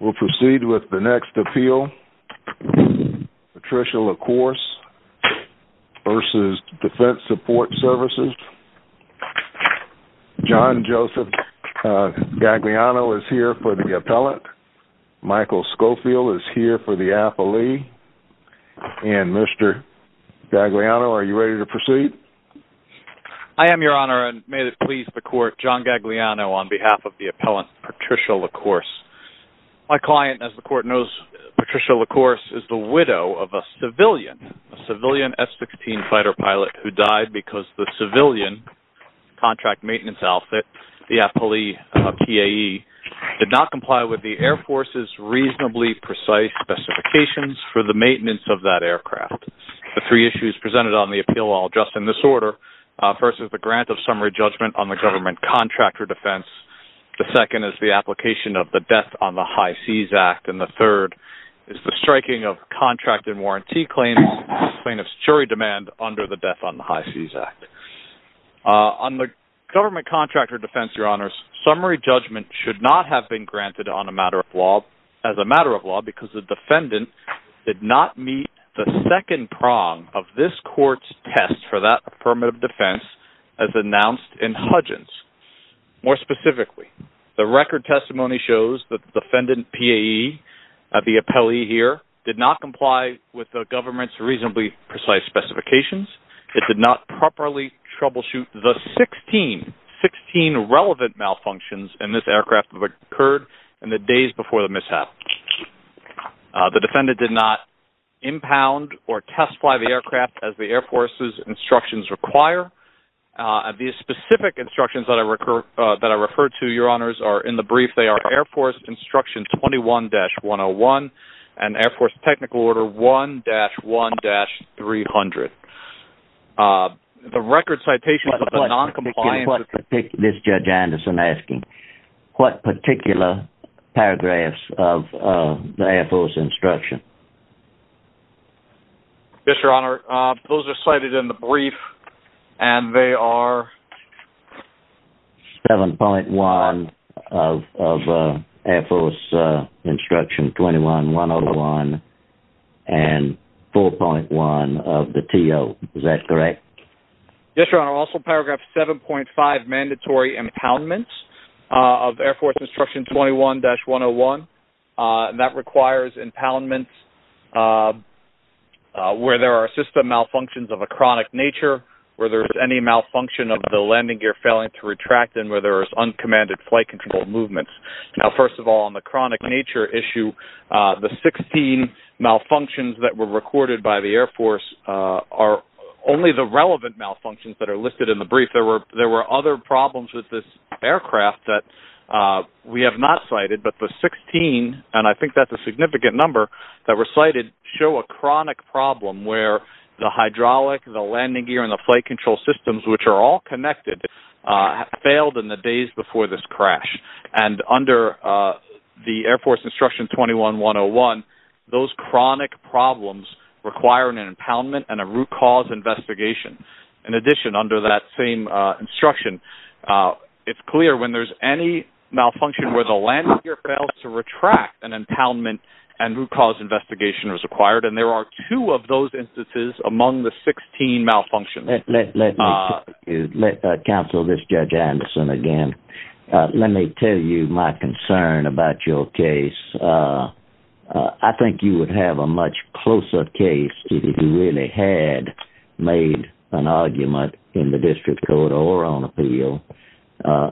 We'll proceed with the next appeal. Patricia Lacourse v. Defense Support Services John Joseph Gagliano is here for the appellant. Michael Schofield is here for the appellee. And Mr. Gagliano, are you ready to proceed? I am, Your Honor, and may it please the Court, John Gagliano on behalf of the appellant, Patricia Lacourse. My client, as the Court knows, Patricia Lacourse, is the widow of a civilian, a civilian F-16 fighter pilot who died because the civilian contract maintenance outfit, the appellee PAE, did not comply with the Air Force's reasonably precise specifications for the maintenance of that aircraft. The three issues presented on the appeal, I'll address in this order. First is the grant of summary judgment on the government contractor defense. The second is the application of the Death on the High Seas Act. And the third is the striking of contract and warranty claims, plaintiff's jury demand under the Death on the High Seas Act. On the government contractor defense, Your Honors, summary judgment should not have been granted on a matter of law, as a matter of law, because the defendant did not meet the second prong of this Court's test for that affirmative defense as announced in Hudgins. More specifically, the record testimony shows that the defendant PAE, the appellee here, did not comply with the government's reasonably precise specifications. It did not properly troubleshoot the 16, 16 relevant malfunctions in this aircraft that occurred in the days before the mishap. The defendant did not impound or test-fly the aircraft as the Air Force's instructions require. These specific instructions that I refer to, Your Honors, are in the brief. They are Air Force Instruction 21-101 and Air Force Technical Order 1-1-300. The record citations of the noncompliance This is Judge Anderson asking, what particular paragraphs of the Air Force Instruction? Yes, Your Honor, those are cited in the brief and they are 7.1 of Air Force Instruction 21-101 and 4.1 of the TO. Is that correct? Yes, Your Honor. Also, paragraph 7.5, mandatory impoundments of Air Force Instruction 21-101. That requires impoundments where there are system malfunctions of a chronic nature, where there's any malfunction of the landing gear failing to retract, and where there's uncommanded flight control movements. Now, first of all, on the chronic nature issue, the 16 malfunctions that were recorded by the relevant malfunctions that are listed in the brief, there were other problems with this aircraft that we have not cited, but the 16, and I think that's a significant number, that were cited show a chronic problem where the hydraulic, the landing gear, and the flight control systems, which are all connected, failed in the days before this crash. And under the Air Force Instruction 21-101, those chronic problems require an impoundment and a root cause investigation. In addition, under that same instruction, it's clear when there's any malfunction where the landing gear fails to retract, an impoundment and root cause investigation is required. And there are two of those instances among the 16 malfunctions. Let me counsel this, Judge Anderson, again. Let me tell you my concern about your case. I think you would have a much closer case if you really had made an argument in the district court or on appeal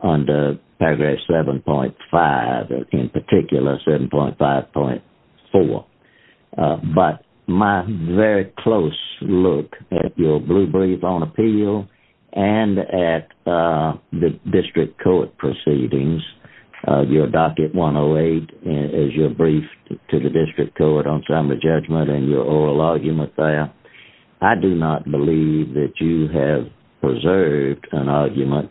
under paragraph 7.5, in particular 7.5.4. But my very close look at your blue brief on appeal and at the district court proceedings, your docket 108 as your brief to the district court on summary judgment and your oral argument there, I do not believe that you have preserved an argument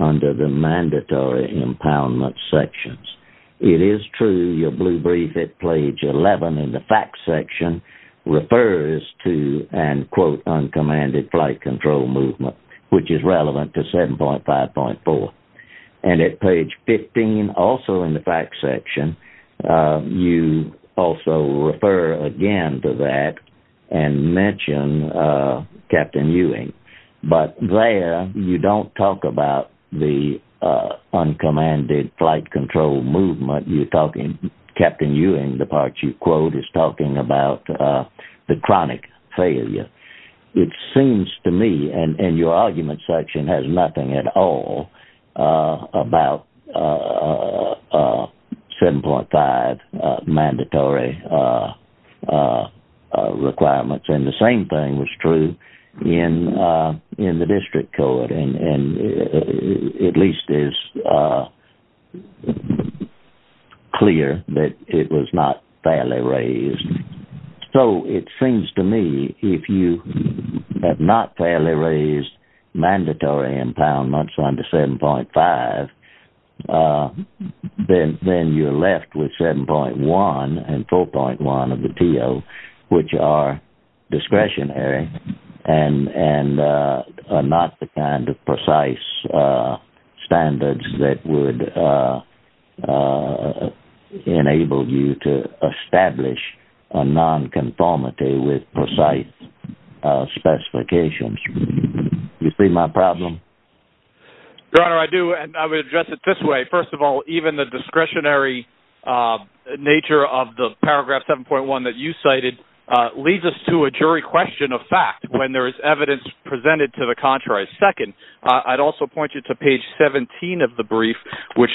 under the mandatory impoundment sections. It is true, your blue brief at page 11 in the facts section refers to, and quote, uncommanded flight control movement, which is relevant to 7.5.4. And at page 15, also in the facts section, you also refer again to that and mention Captain Ewing. But there, you don't talk about the uncommanded flight control movement. You're talking, Captain Ewing, the part you quote, is talking about the chronic failure. It seems to me, and your argument section has nothing at all about 7.5 mandatory requirements. And the same thing was true in the district court and at least is clear that it was not fairly raised. So it seems to me, if you have not fairly raised mandatory impoundments under 7.5, then you're left with 7.1 and 4.1 of the TO, which are discretionary and are not the kind of precise standards that would enable you to establish a nonconformity with precise specifications. You see my problem? Your Honor, I do. And I would address it this way. First of all, even the discretionary nature of the paragraph 7.1 that you cited leads us to a jury question of fact when there is evidence presented to the contrary. Second, I'd also point you to page 17 of the brief, which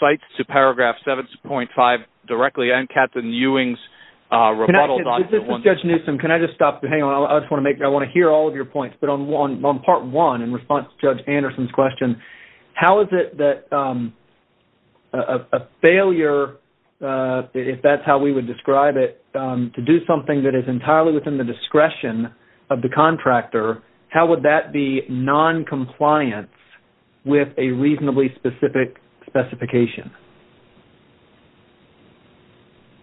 cites to paragraph 7.5 directly and Captain Ewing's rebuttal. Judge Newsom, can I just stop? I want to hear all of your points. But on part one in response to Judge Anderson's question, how is it that a failure, if that's how we would describe it, to do something that is entirely within the discretion of the contractor, how would that be noncompliance with a reasonably specific specification?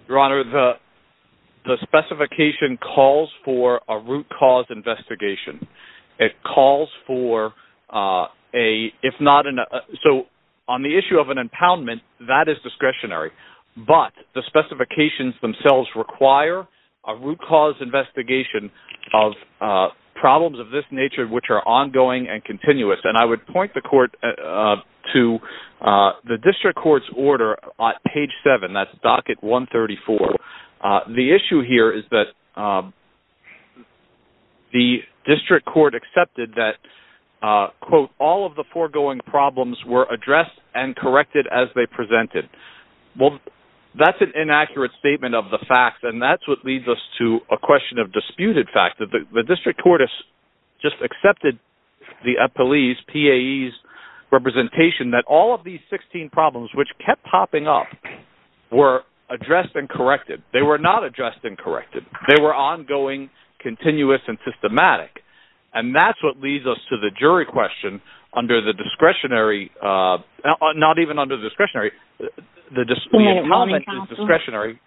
Your Honor, the specification calls for a root cause investigation. It calls for a, if not an, so on the issue of an impoundment, that is discretionary. But the specifications themselves require a root cause investigation of problems of this nature, which are ongoing and continuous. And I would point the court to the district court's order on page 7, that's docket 134. The issue here is that the district court accepted that, quote, all of the foregoing problems were addressed and corrected as they presented. Well, that's an inaccurate statement of the fact, and that's what leads us to a question of disputed fact, that the district court has just accepted the police PAE's representation that all of these 16 problems, which kept popping up, were addressed and corrected. They were not addressed and corrected. They were ongoing, continuous, and systematic. And that's what leads us to the jury question under the discretionary, not even under discretionary, the discretionary.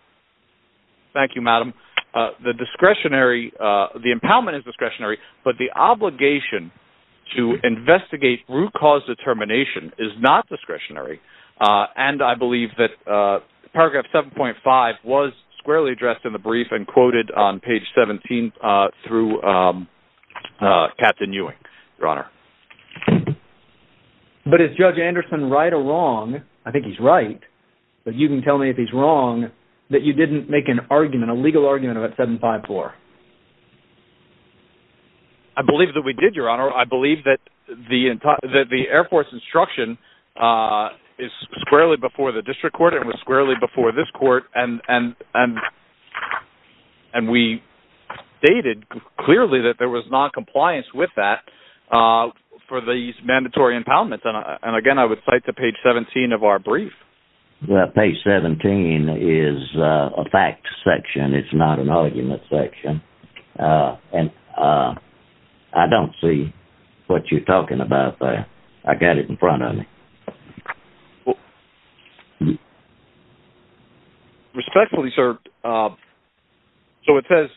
Thank you, Madam. The discretionary, the impoundment is discretionary, but the obligation to investigate root cause determination is not discretionary. And I believe that paragraph 7.5 was squarely addressed in the brief and quoted on page 17 through Captain Ewing, Your Honor. But is Judge Anderson right or wrong? I think he's right, but you can tell me if he's wrong that you didn't make an argument, a legal argument about 7.5.4. I believe that we did, Your Honor. I believe that the Air Force instruction is squarely before the district court and was squarely before this court. And we stated clearly that there was noncompliance with that for these mandatory impoundments. And again, I would cite the page 17 of our brief. Page 17 is a fact section. It's not an argument section. And I don't see what you're talking about there. I got it in front of me. Respectfully, sir. So it says,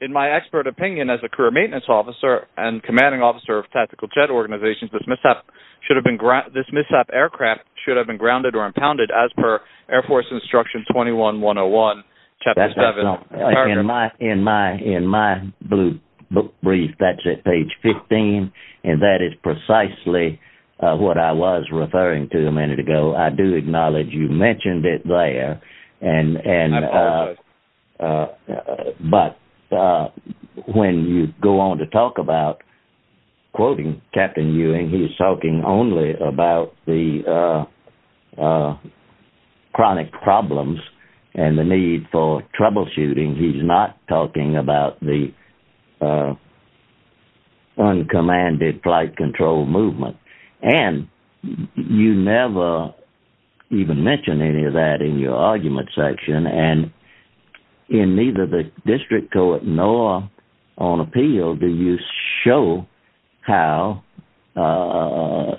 in my expert opinion as a career maintenance officer and commanding officer of tactical jet organizations, this mishap aircraft should have been grounded or impounded as per Air Force Instruction 21-101 Chapter 7. In my blue brief, that's at page 15, and that is precisely what I was referring to a minute ago. I do acknowledge you mentioned it there. I apologize. But when you go on to talk about quoting Captain Ewing, he's talking only about the chronic problems and the need for troubleshooting. He's not talking about the commanded flight control movement. And you never even mention any of that in your argument section. And in neither the district court nor on appeal do you show how the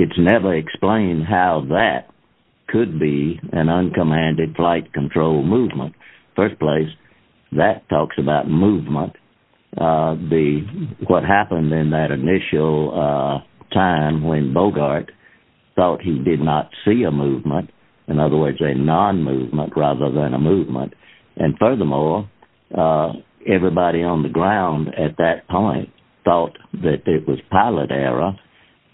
it's never explained how that could be an uncommanded flight control movement. First place, that talks about movement. What happened in that initial time when Bogart thought he did not see a movement, in other words, a non-movement rather than a movement. And furthermore, everybody on ground at that point thought that it was pilot error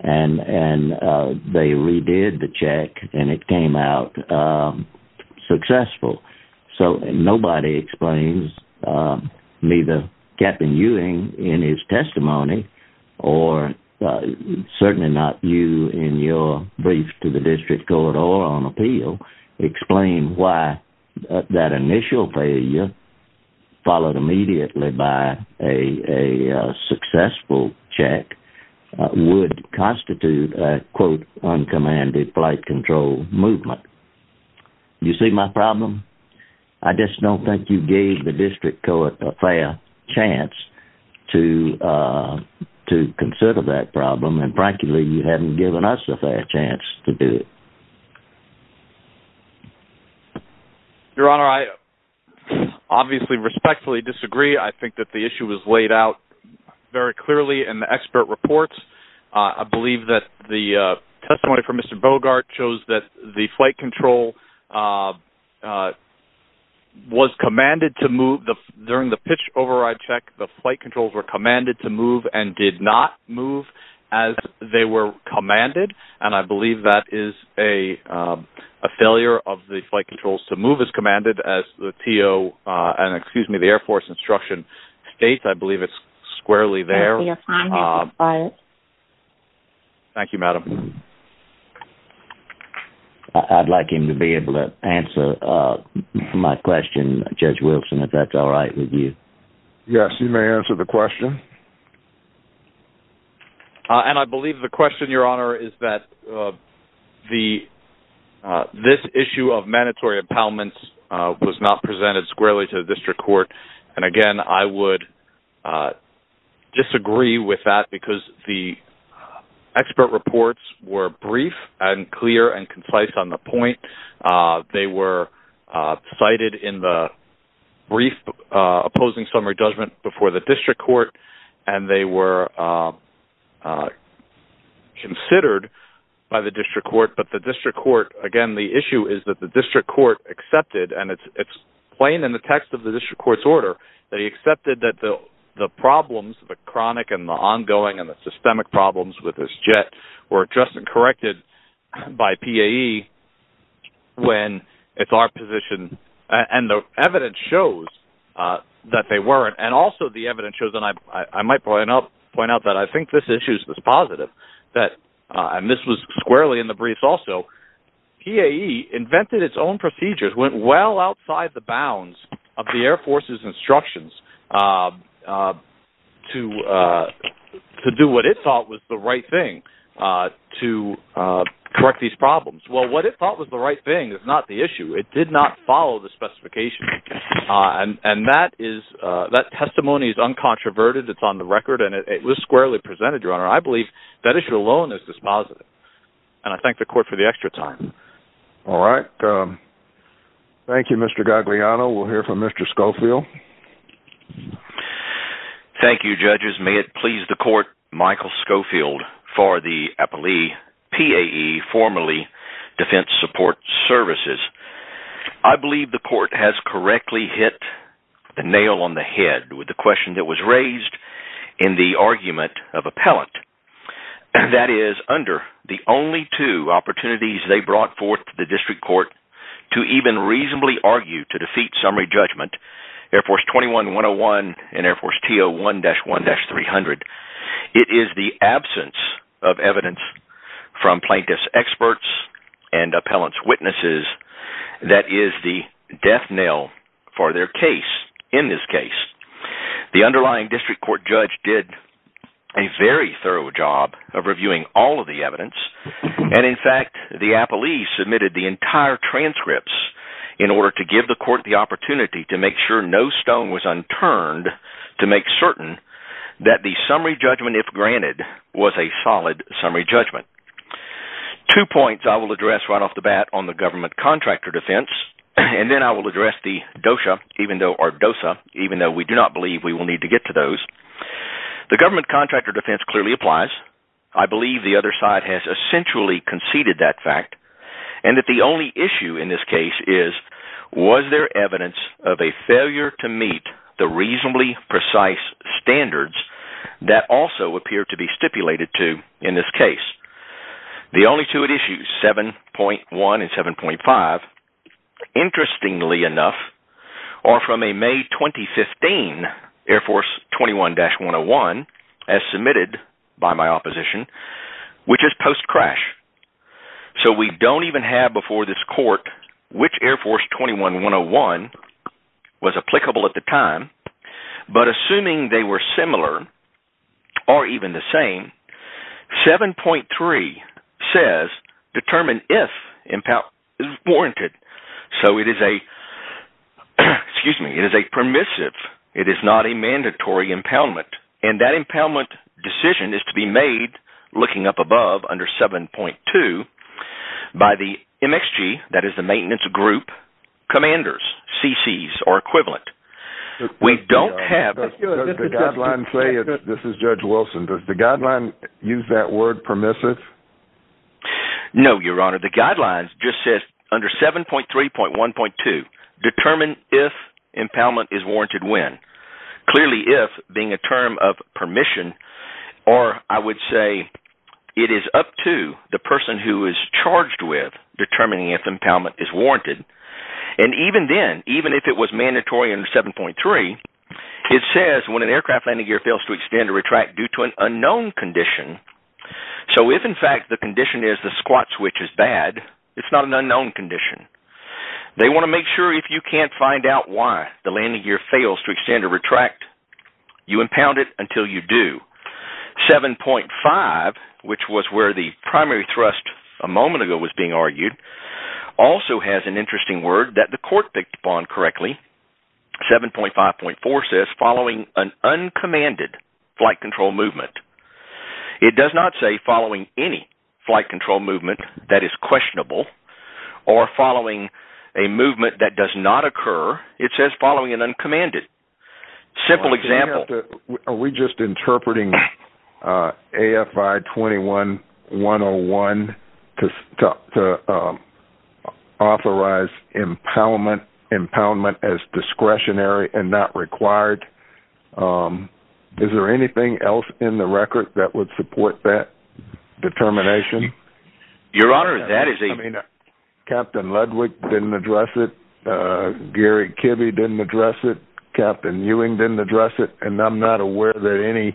and they redid the check and it came out successful. So nobody explains, neither Captain Ewing in his testimony or certainly not you in your brief to the district court or on appeal, explain why that initial failure followed immediately by a successful check would constitute a quote uncommanded flight control movement. You see my problem? I just don't think you gave the district court a fair chance to consider that problem. And frankly, you haven't given us a fair chance to do it. Your Honor, I obviously respectfully disagree. I think that the issue was laid out very clearly in the expert reports. I believe that the testimony from Mr. Bogart shows that the flight control was commanded to move the during the pitch override check, the flight controls were commanded to move and did not move as they were commanded. And I believe that is a failure of the flight controls to move as commanded as the TO and excuse me, the Air Force instruction states. I believe it's squarely there. Thank you, Madam. I'd like him to be able to answer my question, Judge Wilson, if that's all right with you. Yes, you may answer the question. Thank you. And I believe the question, Your Honor, is that this issue of mandatory impoundments was not presented squarely to the district court. And again, I would disagree with that because the expert reports were brief and clear and concise on the point. They were cited in the brief opposing summary judgment before the district court and they were considered by the district court. But the district court, again, the issue is that the district court accepted and it's plain in the text of the district court's order. They accepted that the problems, the chronic and the ongoing and the systemic problems with this jet were just corrected by PAE when it's our position. And the evidence shows that they the evidence shows, and I might point out that I think this issue is positive, that, and this was squarely in the brief also, PAE invented its own procedures, went well outside the bounds of the Air Force's instructions to do what it thought was the right thing to correct these problems. Well, what it thought was the right thing is not the issue. It did not follow the specification. And that testimony is uncontroverted. It's on the record and it was squarely presented, Your Honor. I believe that issue alone is just positive. And I thank the court for the extra time. All right. Thank you, Mr. Gagliano. We'll hear from Mr. Schofield. Thank you, judges. May it please the court, Michael Schofield for the appellee, PAE, formerly Defense Support Services. I believe the court has correctly hit the nail on the head with the question that was raised in the argument of appellant. And that is under the only two opportunities they brought forth to the district court to even reasonably argue to defeat summary judgment, Air Force 21-101 and Air Force T01-1-300. It is the absence of evidence from plaintiff's experts and appellant's witnesses that is the death nail for their case in this case. The underlying district court judge did a very thorough job of reviewing all of the evidence. And in fact, the appellee submitted the entire transcripts in order to give the court the opportunity to make sure no stone was unturned to make certain that the summary judgment, if granted, was a solid summary judgment. Two points I will address right off the bat on the government contractor defense. And then I will address the DOSA, even though we do not believe we will need to get to those. The government contractor defense clearly applies. I believe the other side has essentially conceded that fact. And that the only issue in this case is, was there evidence of a failure to meet the reasonably precise standards that also appear to be stipulated to in this case. The only two issues, 7.1 and 7.5, interestingly enough, are from a May 2015 Air Force 21-101, as submitted by my opposition, which is post-crash. So we don't even have before this court which Air Force 21-101 was applicable at the time. But assuming they were similar or even the same, 7.3 says, determine if impound is warranted. So it is a, excuse me, it is a permissive. It is not a mandatory impoundment. And that impoundment is to be made, looking up above under 7.2, by the MXG, that is the maintenance group commanders, CCs or equivalent. We don't have... Does the guideline say, this is Judge Wilson, does the guideline use that word permissive? No, Your Honor. The guideline just says under 7.3.1.2, determine if impoundment is warranted when? Clearly if, being a term of permission, or I would say it is up to the person who is charged with determining if impoundment is warranted. And even then, even if it was mandatory under 7.3, it says when an aircraft landing gear fails to extend or retract due to an unknown condition. So if in fact the condition is the squat switch is bad, it's not an unknown condition. They want to make sure if you can't find out why the landing gear fails to extend or retract, you impound it until you do. 7.5, which was where the primary thrust a moment ago was being argued, also has an interesting word that the court picked upon correctly. 7.5.4 says, following an uncommanded flight control movement. It does not say following any flight control movement that is questionable or following a movement that does not occur. It says following an uncommanded. Simple example. Are we just interpreting AFI 21-101 to authorize impoundment as discretionary and not required? Is there anything else in the record that would support that determination? Your Honor, that is a... Captain Ludwig didn't address it. Gary Kibbe didn't address it. Captain Ewing didn't address it. And I'm not aware that any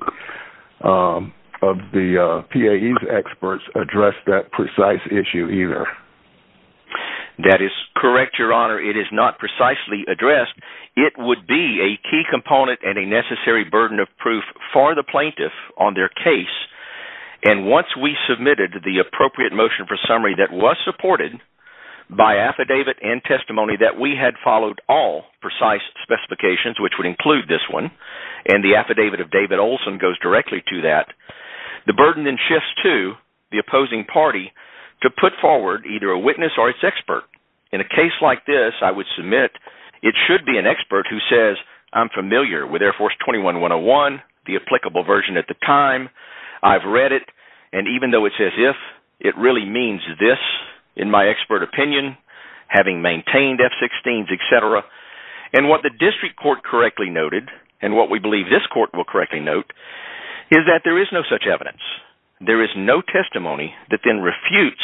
of the PAE's experts addressed that precise issue either. That is correct, Your Honor. It is not precisely addressed. It would be a key component and a necessary burden of proof for the plaintiff on their case. And once we submitted the appropriate motion for summary that was supported by affidavit and testimony that we had followed all precise specifications, which would include this one, and the affidavit of David Olson goes directly to that, the burden then shifts to the opposing party to put forward either a witness or its expert. In a case like this, I would submit it should be an expert who says, I'm familiar with Air Force 21-101, the applicable version at the time. I've read it. And even though it says if, it really means this, in my expert opinion, having maintained F-16s, et cetera. And what the district court correctly noted, and what we believe this court will correctly note, is that there is no such evidence. There is no testimony that then refutes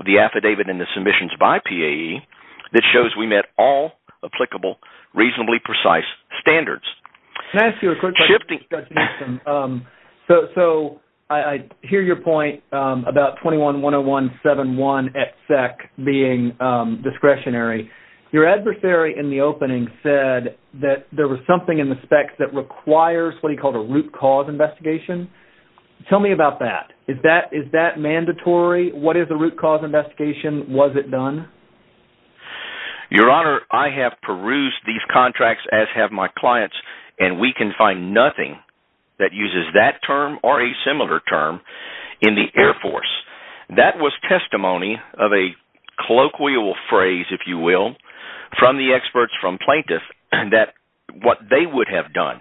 the affidavit and the submissions by PAE that shows we met all applicable, reasonably precise standards. Can I ask you a quick question? So I hear your point about 21-101-71 at SEC being discretionary. Your adversary in the opening said that there was something in the specs that requires what he called a root cause investigation. Tell me about that. Is that mandatory? What is a root cause investigation? Was it done? Your Honor, I have perused these contracts, as have my clients, and we can find nothing that uses that term or a similar term in the Air Force. That was testimony of a colloquial phrase, if you will, from the experts, from plaintiffs, that what they would have done.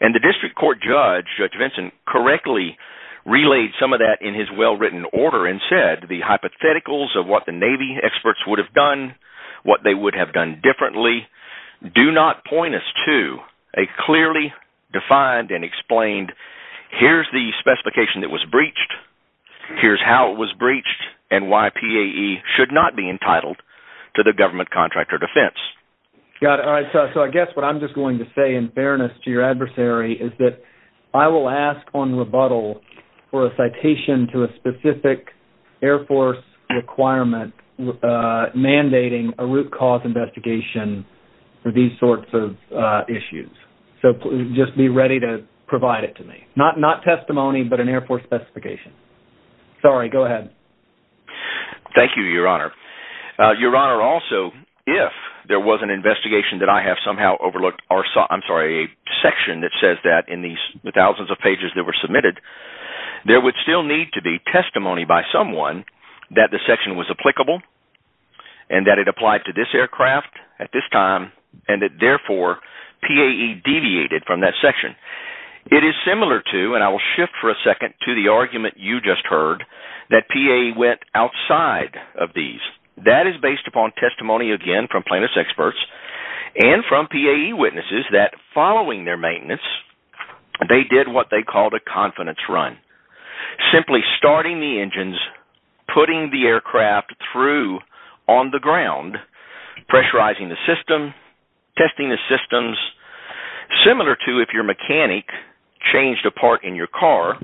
And the district court judge, Judge Vincent, correctly relayed some of that in his well-written order and said the hypotheticals of what the Navy experts would have done, what they would have done differently, do not point us to a clearly defined and explained, here's the specification that was breached, here's how it was breached, and why PAE should not be entitled to the government contract or defense. Got it. All right. So I guess what I'm just going to say in fairness to your adversary is that I will ask on rebuttal for a citation to a specific Air Force requirement mandating a root cause investigation for these sorts of issues. So just be ready to provide it to me. Not testimony, but an Air Force specification. Sorry. Go ahead. Thank you, Your Honor. Your Honor, also, if there was an investigation that I have somehow overlooked, or I'm sorry, a section that says that in the thousands of pages that were submitted, there would still need to be testimony by someone that the section was applicable, and that it applied to this aircraft at this time, and that therefore, PAE deviated from that section. It is similar to, and I will shift for a second to the argument you just heard, that PAE went outside of these. That is based upon testimony, again, from plaintiff's experts, and from PAE witnesses that following their maintenance, they did what they called a confidence run. Simply starting the engines, putting the aircraft through on the ground, pressurizing the system, testing the systems, similar to if your mechanic changed a part in your car,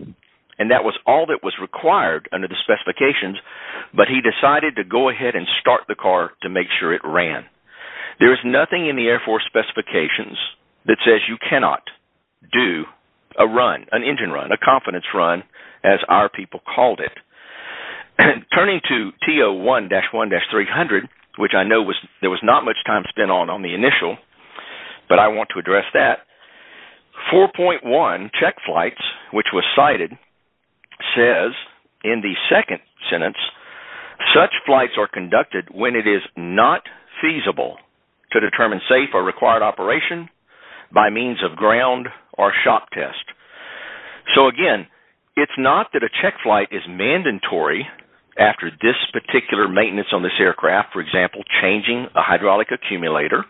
and that was all that was required under the specifications, but he decided to go ahead and start the car to make sure it ran. There is nothing in the Air Force specifications that says you cannot do a run, an engine run, a confidence run, as our people called it. Turning to T01-1-300, which I know there was not much time spent on on the initial, but I want to address that. 4.1, check flights, which was cited, says in the second sentence, such flights are conducted when it is not feasible to determine safe or required operation by means of ground or shock test. So again, it is not that a check flight is mandatory after this particular maintenance on this aircraft, for example, changing a hydraulic accumulator,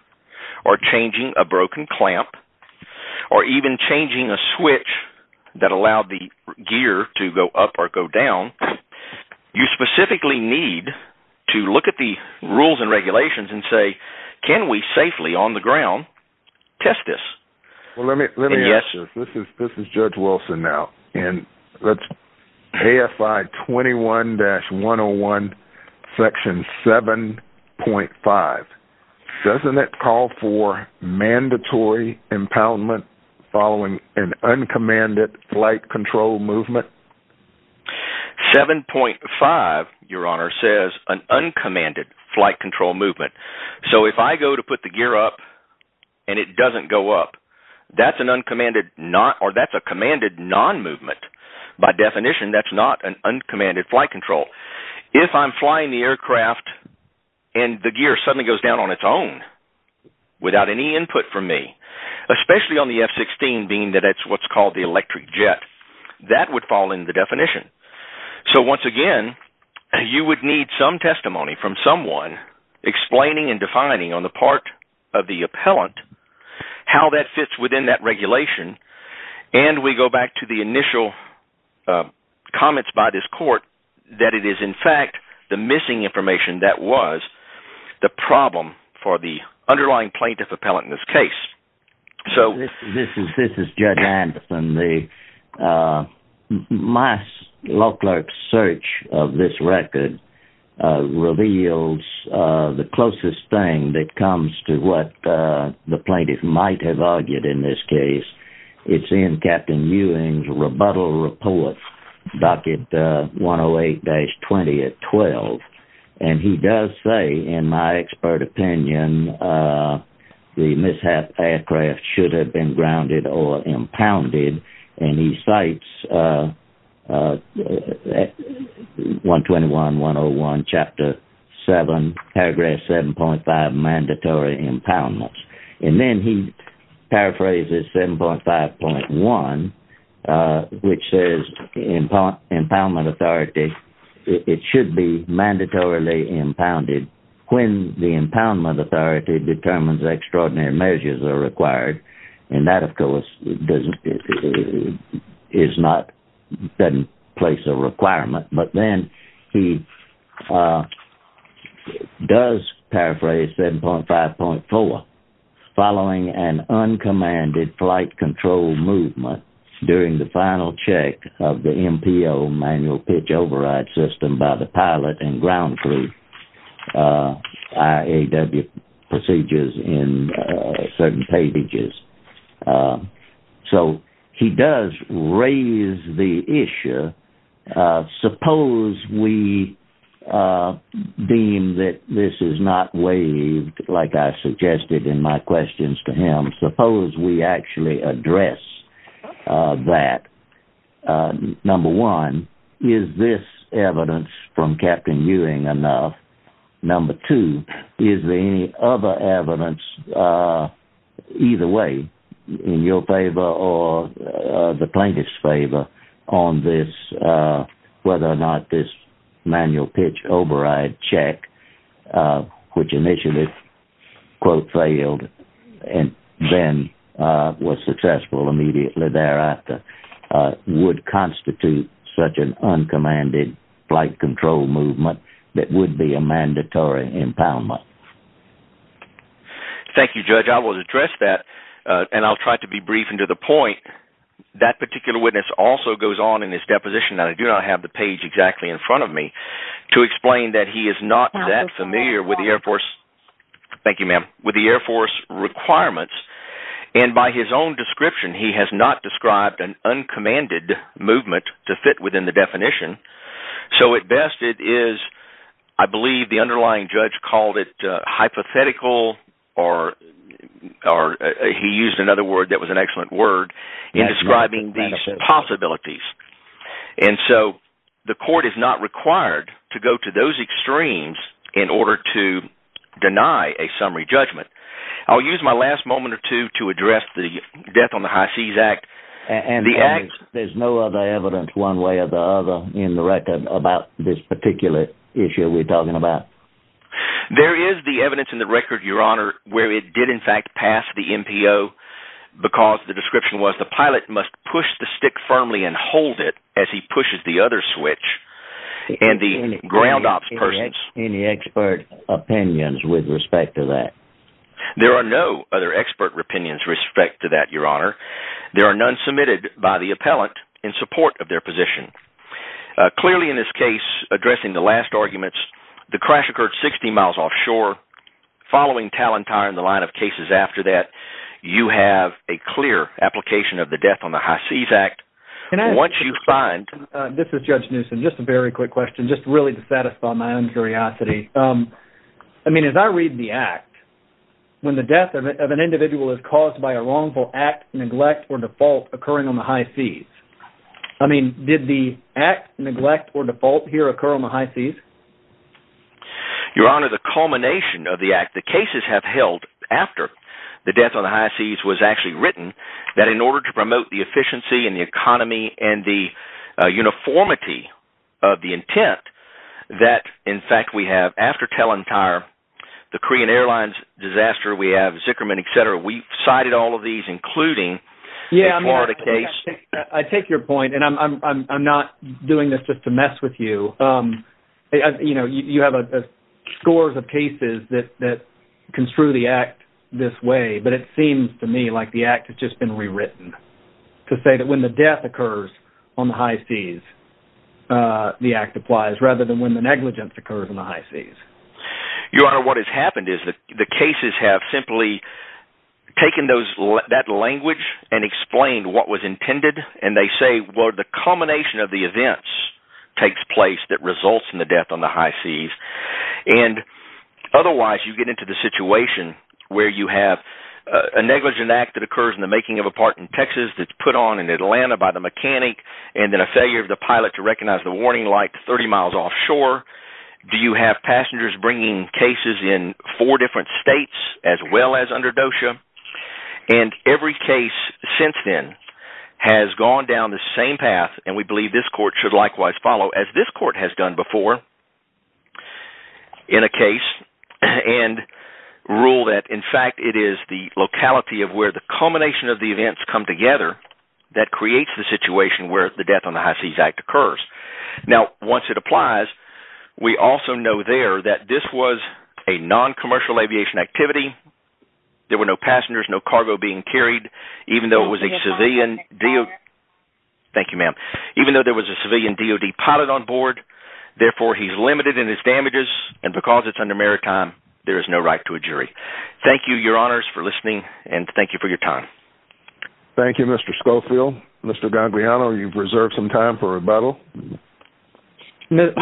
or changing a broken clamp, or even changing a switch that allowed the gear to go up or go down. You specifically need to look at the rules and regulations and say, can we safely on the ground test this? Well, let me ask you, this is Judge Wilson now, and let's, AFI 21-101, section 7.5, doesn't it call for mandatory impoundment following an uncommanded flight movement? 7.5, your honor, says an uncommanded flight control movement. So if I go to put the gear up, and it doesn't go up, that's an uncommanded non, or that's a commanded non-movement. By definition, that's not an uncommanded flight control. If I'm flying the aircraft, and the gear suddenly goes down on its own, without any input from me, especially on the F-16, being that it's what's called the electric jet, that would fall in the definition. So once again, you would need some testimony from someone explaining and defining on the part of the appellant how that fits within that regulation, and we go back to the initial comments by this court that it is in fact the missing information that was the problem for the underlying plaintiff appellant in this case. This is Judge Anderson. My law clerk's search of this record reveals the closest thing that comes to what the plaintiff might have argued in this case. It's in Captain Ewing's rebuttal report, docket 108-20 at 12, and he does say, in my expert opinion, the mishap aircraft should have been grounded or impounded, and he cites 121-101, chapter 7, paragraph 7.5, mandatory impoundments. And then he paraphrases 7.5.1, which says, in part, impoundment authority, it should be determined that extraordinary measures are required, and that, of course, doesn't place a requirement. But then he does paraphrase 7.5.4, following an uncommanded flight control movement during the final check of the MPO, manual pitch override system, by the pilot and ground crew, IAW procedures in certain pages. So he does raise the issue. Suppose we deem that this is not waived, like I suggested in my questions to him, suppose we actually address that. Number one, is this evidence from Captain Ewing enough? Number two, is there any other evidence, either way, in your favor or the plaintiff's favor, on this, whether or not this manual pitch override check, which initially, quote, failed, and then was successful immediately thereafter, would constitute such an uncommanded flight control movement that would be a mandatory impoundment? Thank you, Judge. I will address that, and I'll try to be brief and to the point. That particular witness also goes on in his deposition, and I do not have the page exactly in front of me, to explain that he is not that familiar with the Air Force requirements, and by his own description, he has not described an uncommanded movement to fit within the definition. So at best, it is, I believe the underlying judge called it hypothetical, or he used another word that was an excellent word in describing these possibilities. And so the court is not required to go to those extremes in order to deny a summary judgment. I'll use my last moment or two to address the Death on the High Seas Act. There's no other evidence, one way or the other, in the record about this particular issue we're talking about? There is the evidence in the record, Your Honor, where it did in fact pass the MPO, because the description was the pilot must push the stick firmly and hold it as he pushes the other switch, and the ground ops persons... Any expert opinions with respect to that? There are no other expert opinions with respect to that, Your Honor. There are none submitted by the appellant in support of their position. Clearly in this case, addressing the last arguments, the crash occurred 60 miles offshore. Following Talentire and the line of cases after that, you have a clear application of the Death on the High Seas Act. Once you find... This is Judge Newsom. Just a very quick question, just really to satisfy my own curiosity. I mean, as I read the act, when the death of an individual is caused by a wrongful act, neglect, or default occurring on the high seas, I mean, did the act, neglect, or default here occur on the high seas? Your Honor, the culmination of the act, the cases have held after the death on the high seas was actually written, that in order to promote the efficiency and the economy and the uniformity of the intent, that in fact we have after Talentire, the Korean Airlines disaster, we have Zickerman, et cetera. We cited all of these, including the Florida case. I take your point, and I'm not doing this just to mess with you. You have scores of cases that construe the act this way, but it seems to me like the act has just been rewritten to say that when the death occurs on the high seas, the act applies, rather than when the negligence occurs on the high seas. Your Honor, what has happened is that cases have simply taken that language and explained what was intended, and they say, well, the culmination of the events takes place that results in the death on the high seas. Otherwise, you get into the situation where you have a negligent act that occurs in the making of a part in Texas that's put on in Atlanta by the mechanic, and then a failure of the pilot to recognize the warning light 30 miles offshore. Do you have passengers bringing cases in four different states as well as under DOSHA? Every case since then has gone down the same path, and we believe this court should likewise follow as this court has done before in a case and rule that, in fact, it is the locality of where the culmination of the events come together that creates the situation where the death on the high seas act occurs. Now, once it applies, we also know there that this was a noncommercial aviation activity. There were no passengers, no cargo being carried, even though there was a civilian DOD pilot on board. Therefore, he's limited in his damages, and because it's under maritime, there is no right to a jury. Thank you, Your Honors, for listening, and thank you for your time. Thank you, Mr. Schofield. Mr. Gangliano, you've reserved some time for rebuttal. This is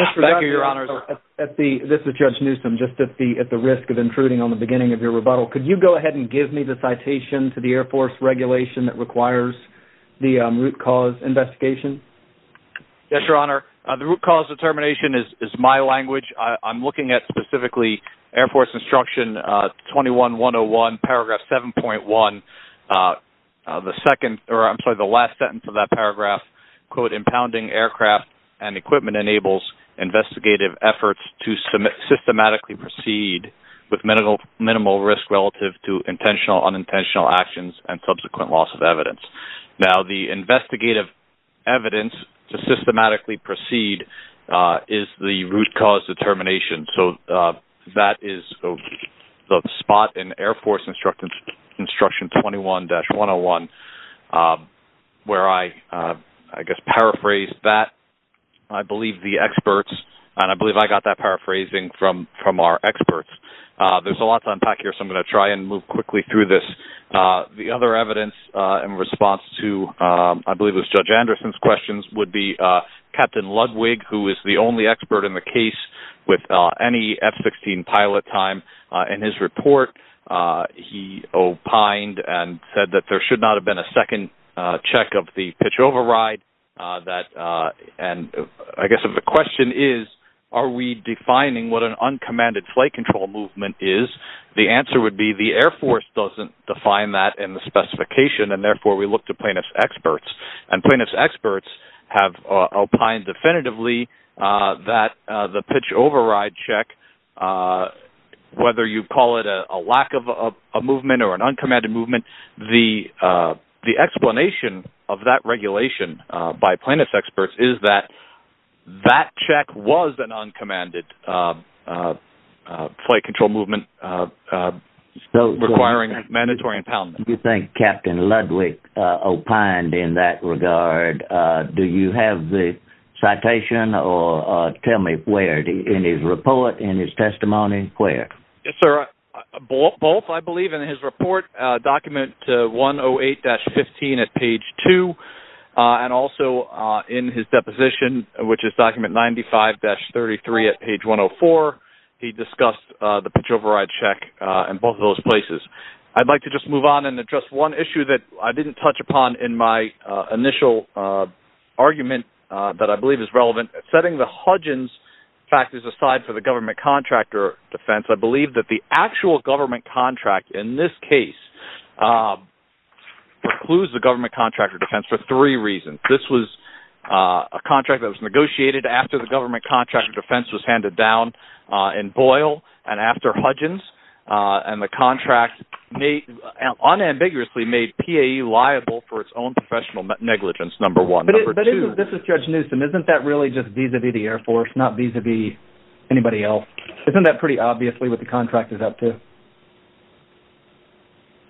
Judge Newsom, just at the risk of intruding on the beginning of your rebuttal. Could you go ahead and give me the citation to the Air Force regulation that requires the root cause investigation? Yes, Your Honor. The root cause determination is my language. I'm looking at specifically Air Force Instruction 21-101, paragraph 7.1. I'm sorry, the last sentence of that paragraph, quote, impounding aircraft and equipment enables investigative efforts to systematically proceed with minimal risk relative to intentional, unintentional actions and subsequent loss of evidence. Now, the investigative evidence to systematically proceed is the root cause determination, so that is the spot in Air Force Instruction 21-101 where I, I guess, paraphrased that. I believe the experts, and I believe I got that paraphrasing from our experts. There's a lot to unpack here, so I'm going to try and move quickly through this. The other evidence in response to, I believe it was Judge Anderson's questions, would be Captain Ludwig, who is the only expert in the case with any F-16 pilot time. In his report, he opined and said that there should not have been a second check of the pitch override. And I guess the question is, are we defining what an uncommanded flight control movement is? The answer would be the Air Force doesn't define that in the specification, and therefore, we look to plaintiff's experts, and plaintiff's experts have opined definitively that the pitch override check, whether you call it a lack of a movement or an uncommanded movement, the explanation of that regulation by plaintiff's experts is that that check was an uncommanded flight control movement requiring mandatory impoundment. Do you think Captain Ludwig opined in that regard? Do you have the citation, or tell me where, in his report, in his testimony, where? Yes, sir. Both, I believe, in his report, document 108-15 at page 2, and also in his he discussed the pitch override check in both of those places. I'd like to just move on and address one issue that I didn't touch upon in my initial argument that I believe is relevant. Setting the Hudgins factors aside for the government contractor defense, I believe that the actual government contract in this case precludes the government contractor defense for three reasons. This was a contract that was in Boyle and after Hudgins, and the contract unambiguously made PAE liable for its own professional negligence, number one. But isn't, this is Judge Newsom, isn't that really just vis-a-vis the Air Force, not vis-a-vis anybody else? Isn't that pretty obviously what the contract is up to?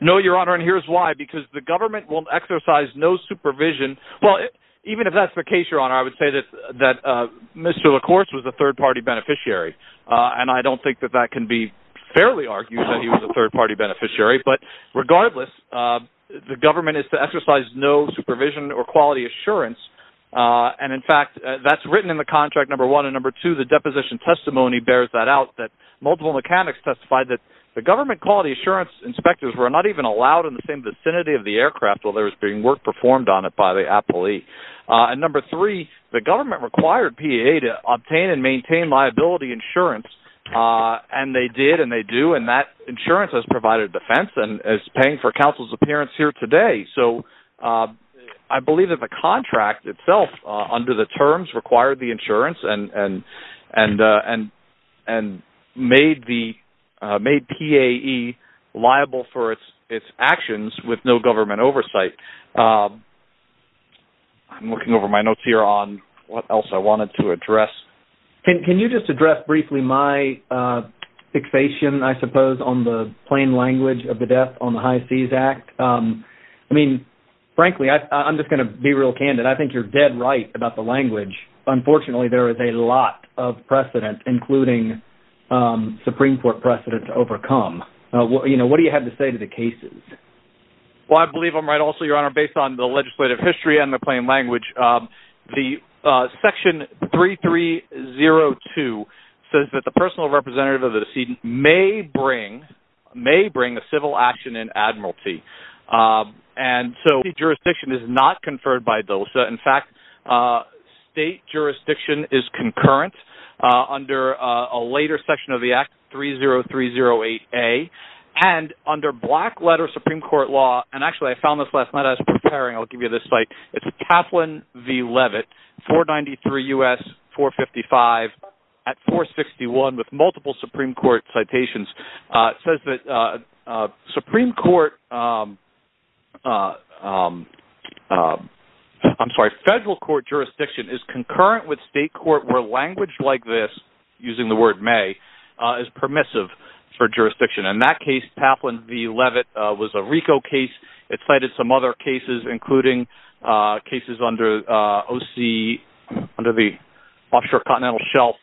No, Your Honor, and here's why. Because the government will exercise no supervision. Well, even if that's the case, Your Honor, I would say that Mr. LaCourse was a third-party beneficiary, and I don't think that that can be fairly argued that he was a third-party beneficiary. But regardless, the government is to exercise no supervision or quality assurance. And in fact, that's written in the contract, number one. And number two, the deposition testimony bears that out, that multiple mechanics testified that the government quality assurance inspectors were not even allowed in the same vicinity of the aircraft while there was being work performed on it by the appellee. And number three, the government required PAE to obtain and maintain liability insurance, and they did and they do, and that insurance has provided defense and is paying for counsel's appearance here today. So I believe that the contract itself under the terms required the insurance and made PAE liable for its actions with no government oversight. I'm looking over my notes here on what else I wanted to address. Can you just address briefly my fixation, I suppose, on the plain language of the death on the High Seas Act? I mean, frankly, I'm just going to be real candid. I think you're dead right about the language. Unfortunately, there is a lot of precedent, including Supreme Court precedent to overcome. What do you have to say to the cases? Well, I believe I'm right also, Your Honor, based on the legislative history and the plain language. Section 3302 says that the personal representative of the decedent may bring a civil action in admiralty. And so the jurisdiction is not conferred by DOSA. In fact, state jurisdiction is concurrent under a later section of the Act, 30308A. And under black letter Supreme Court law, and actually I found this last night as I was preparing, I'll give you this site. It's Kaplan v. Levitt, 493 U.S., 455 at 461 with multiple Supreme Court citations. It says that federal court jurisdiction is concurrent with state court where language like this, using the word may, is permissive for jurisdiction. In that case, Kaplan v. Levitt was a RICO case cited some other cases, including cases under OC, under the Offshore Continental Shelf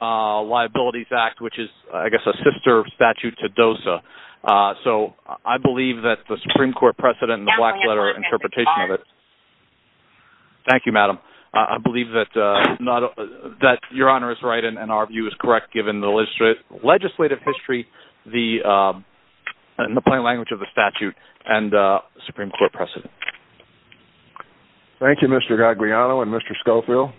Liabilities Act, which is, I guess, a sister statute to DOSA. So I believe that the Supreme Court precedent and the black letter interpretation of it. Thank you, Madam. I believe that Your Honor is right and our view is correct, given the legislative history and the plain language of the statute and Supreme Court precedent. Thank you, Mr. Gagliano and Mr. Schofield.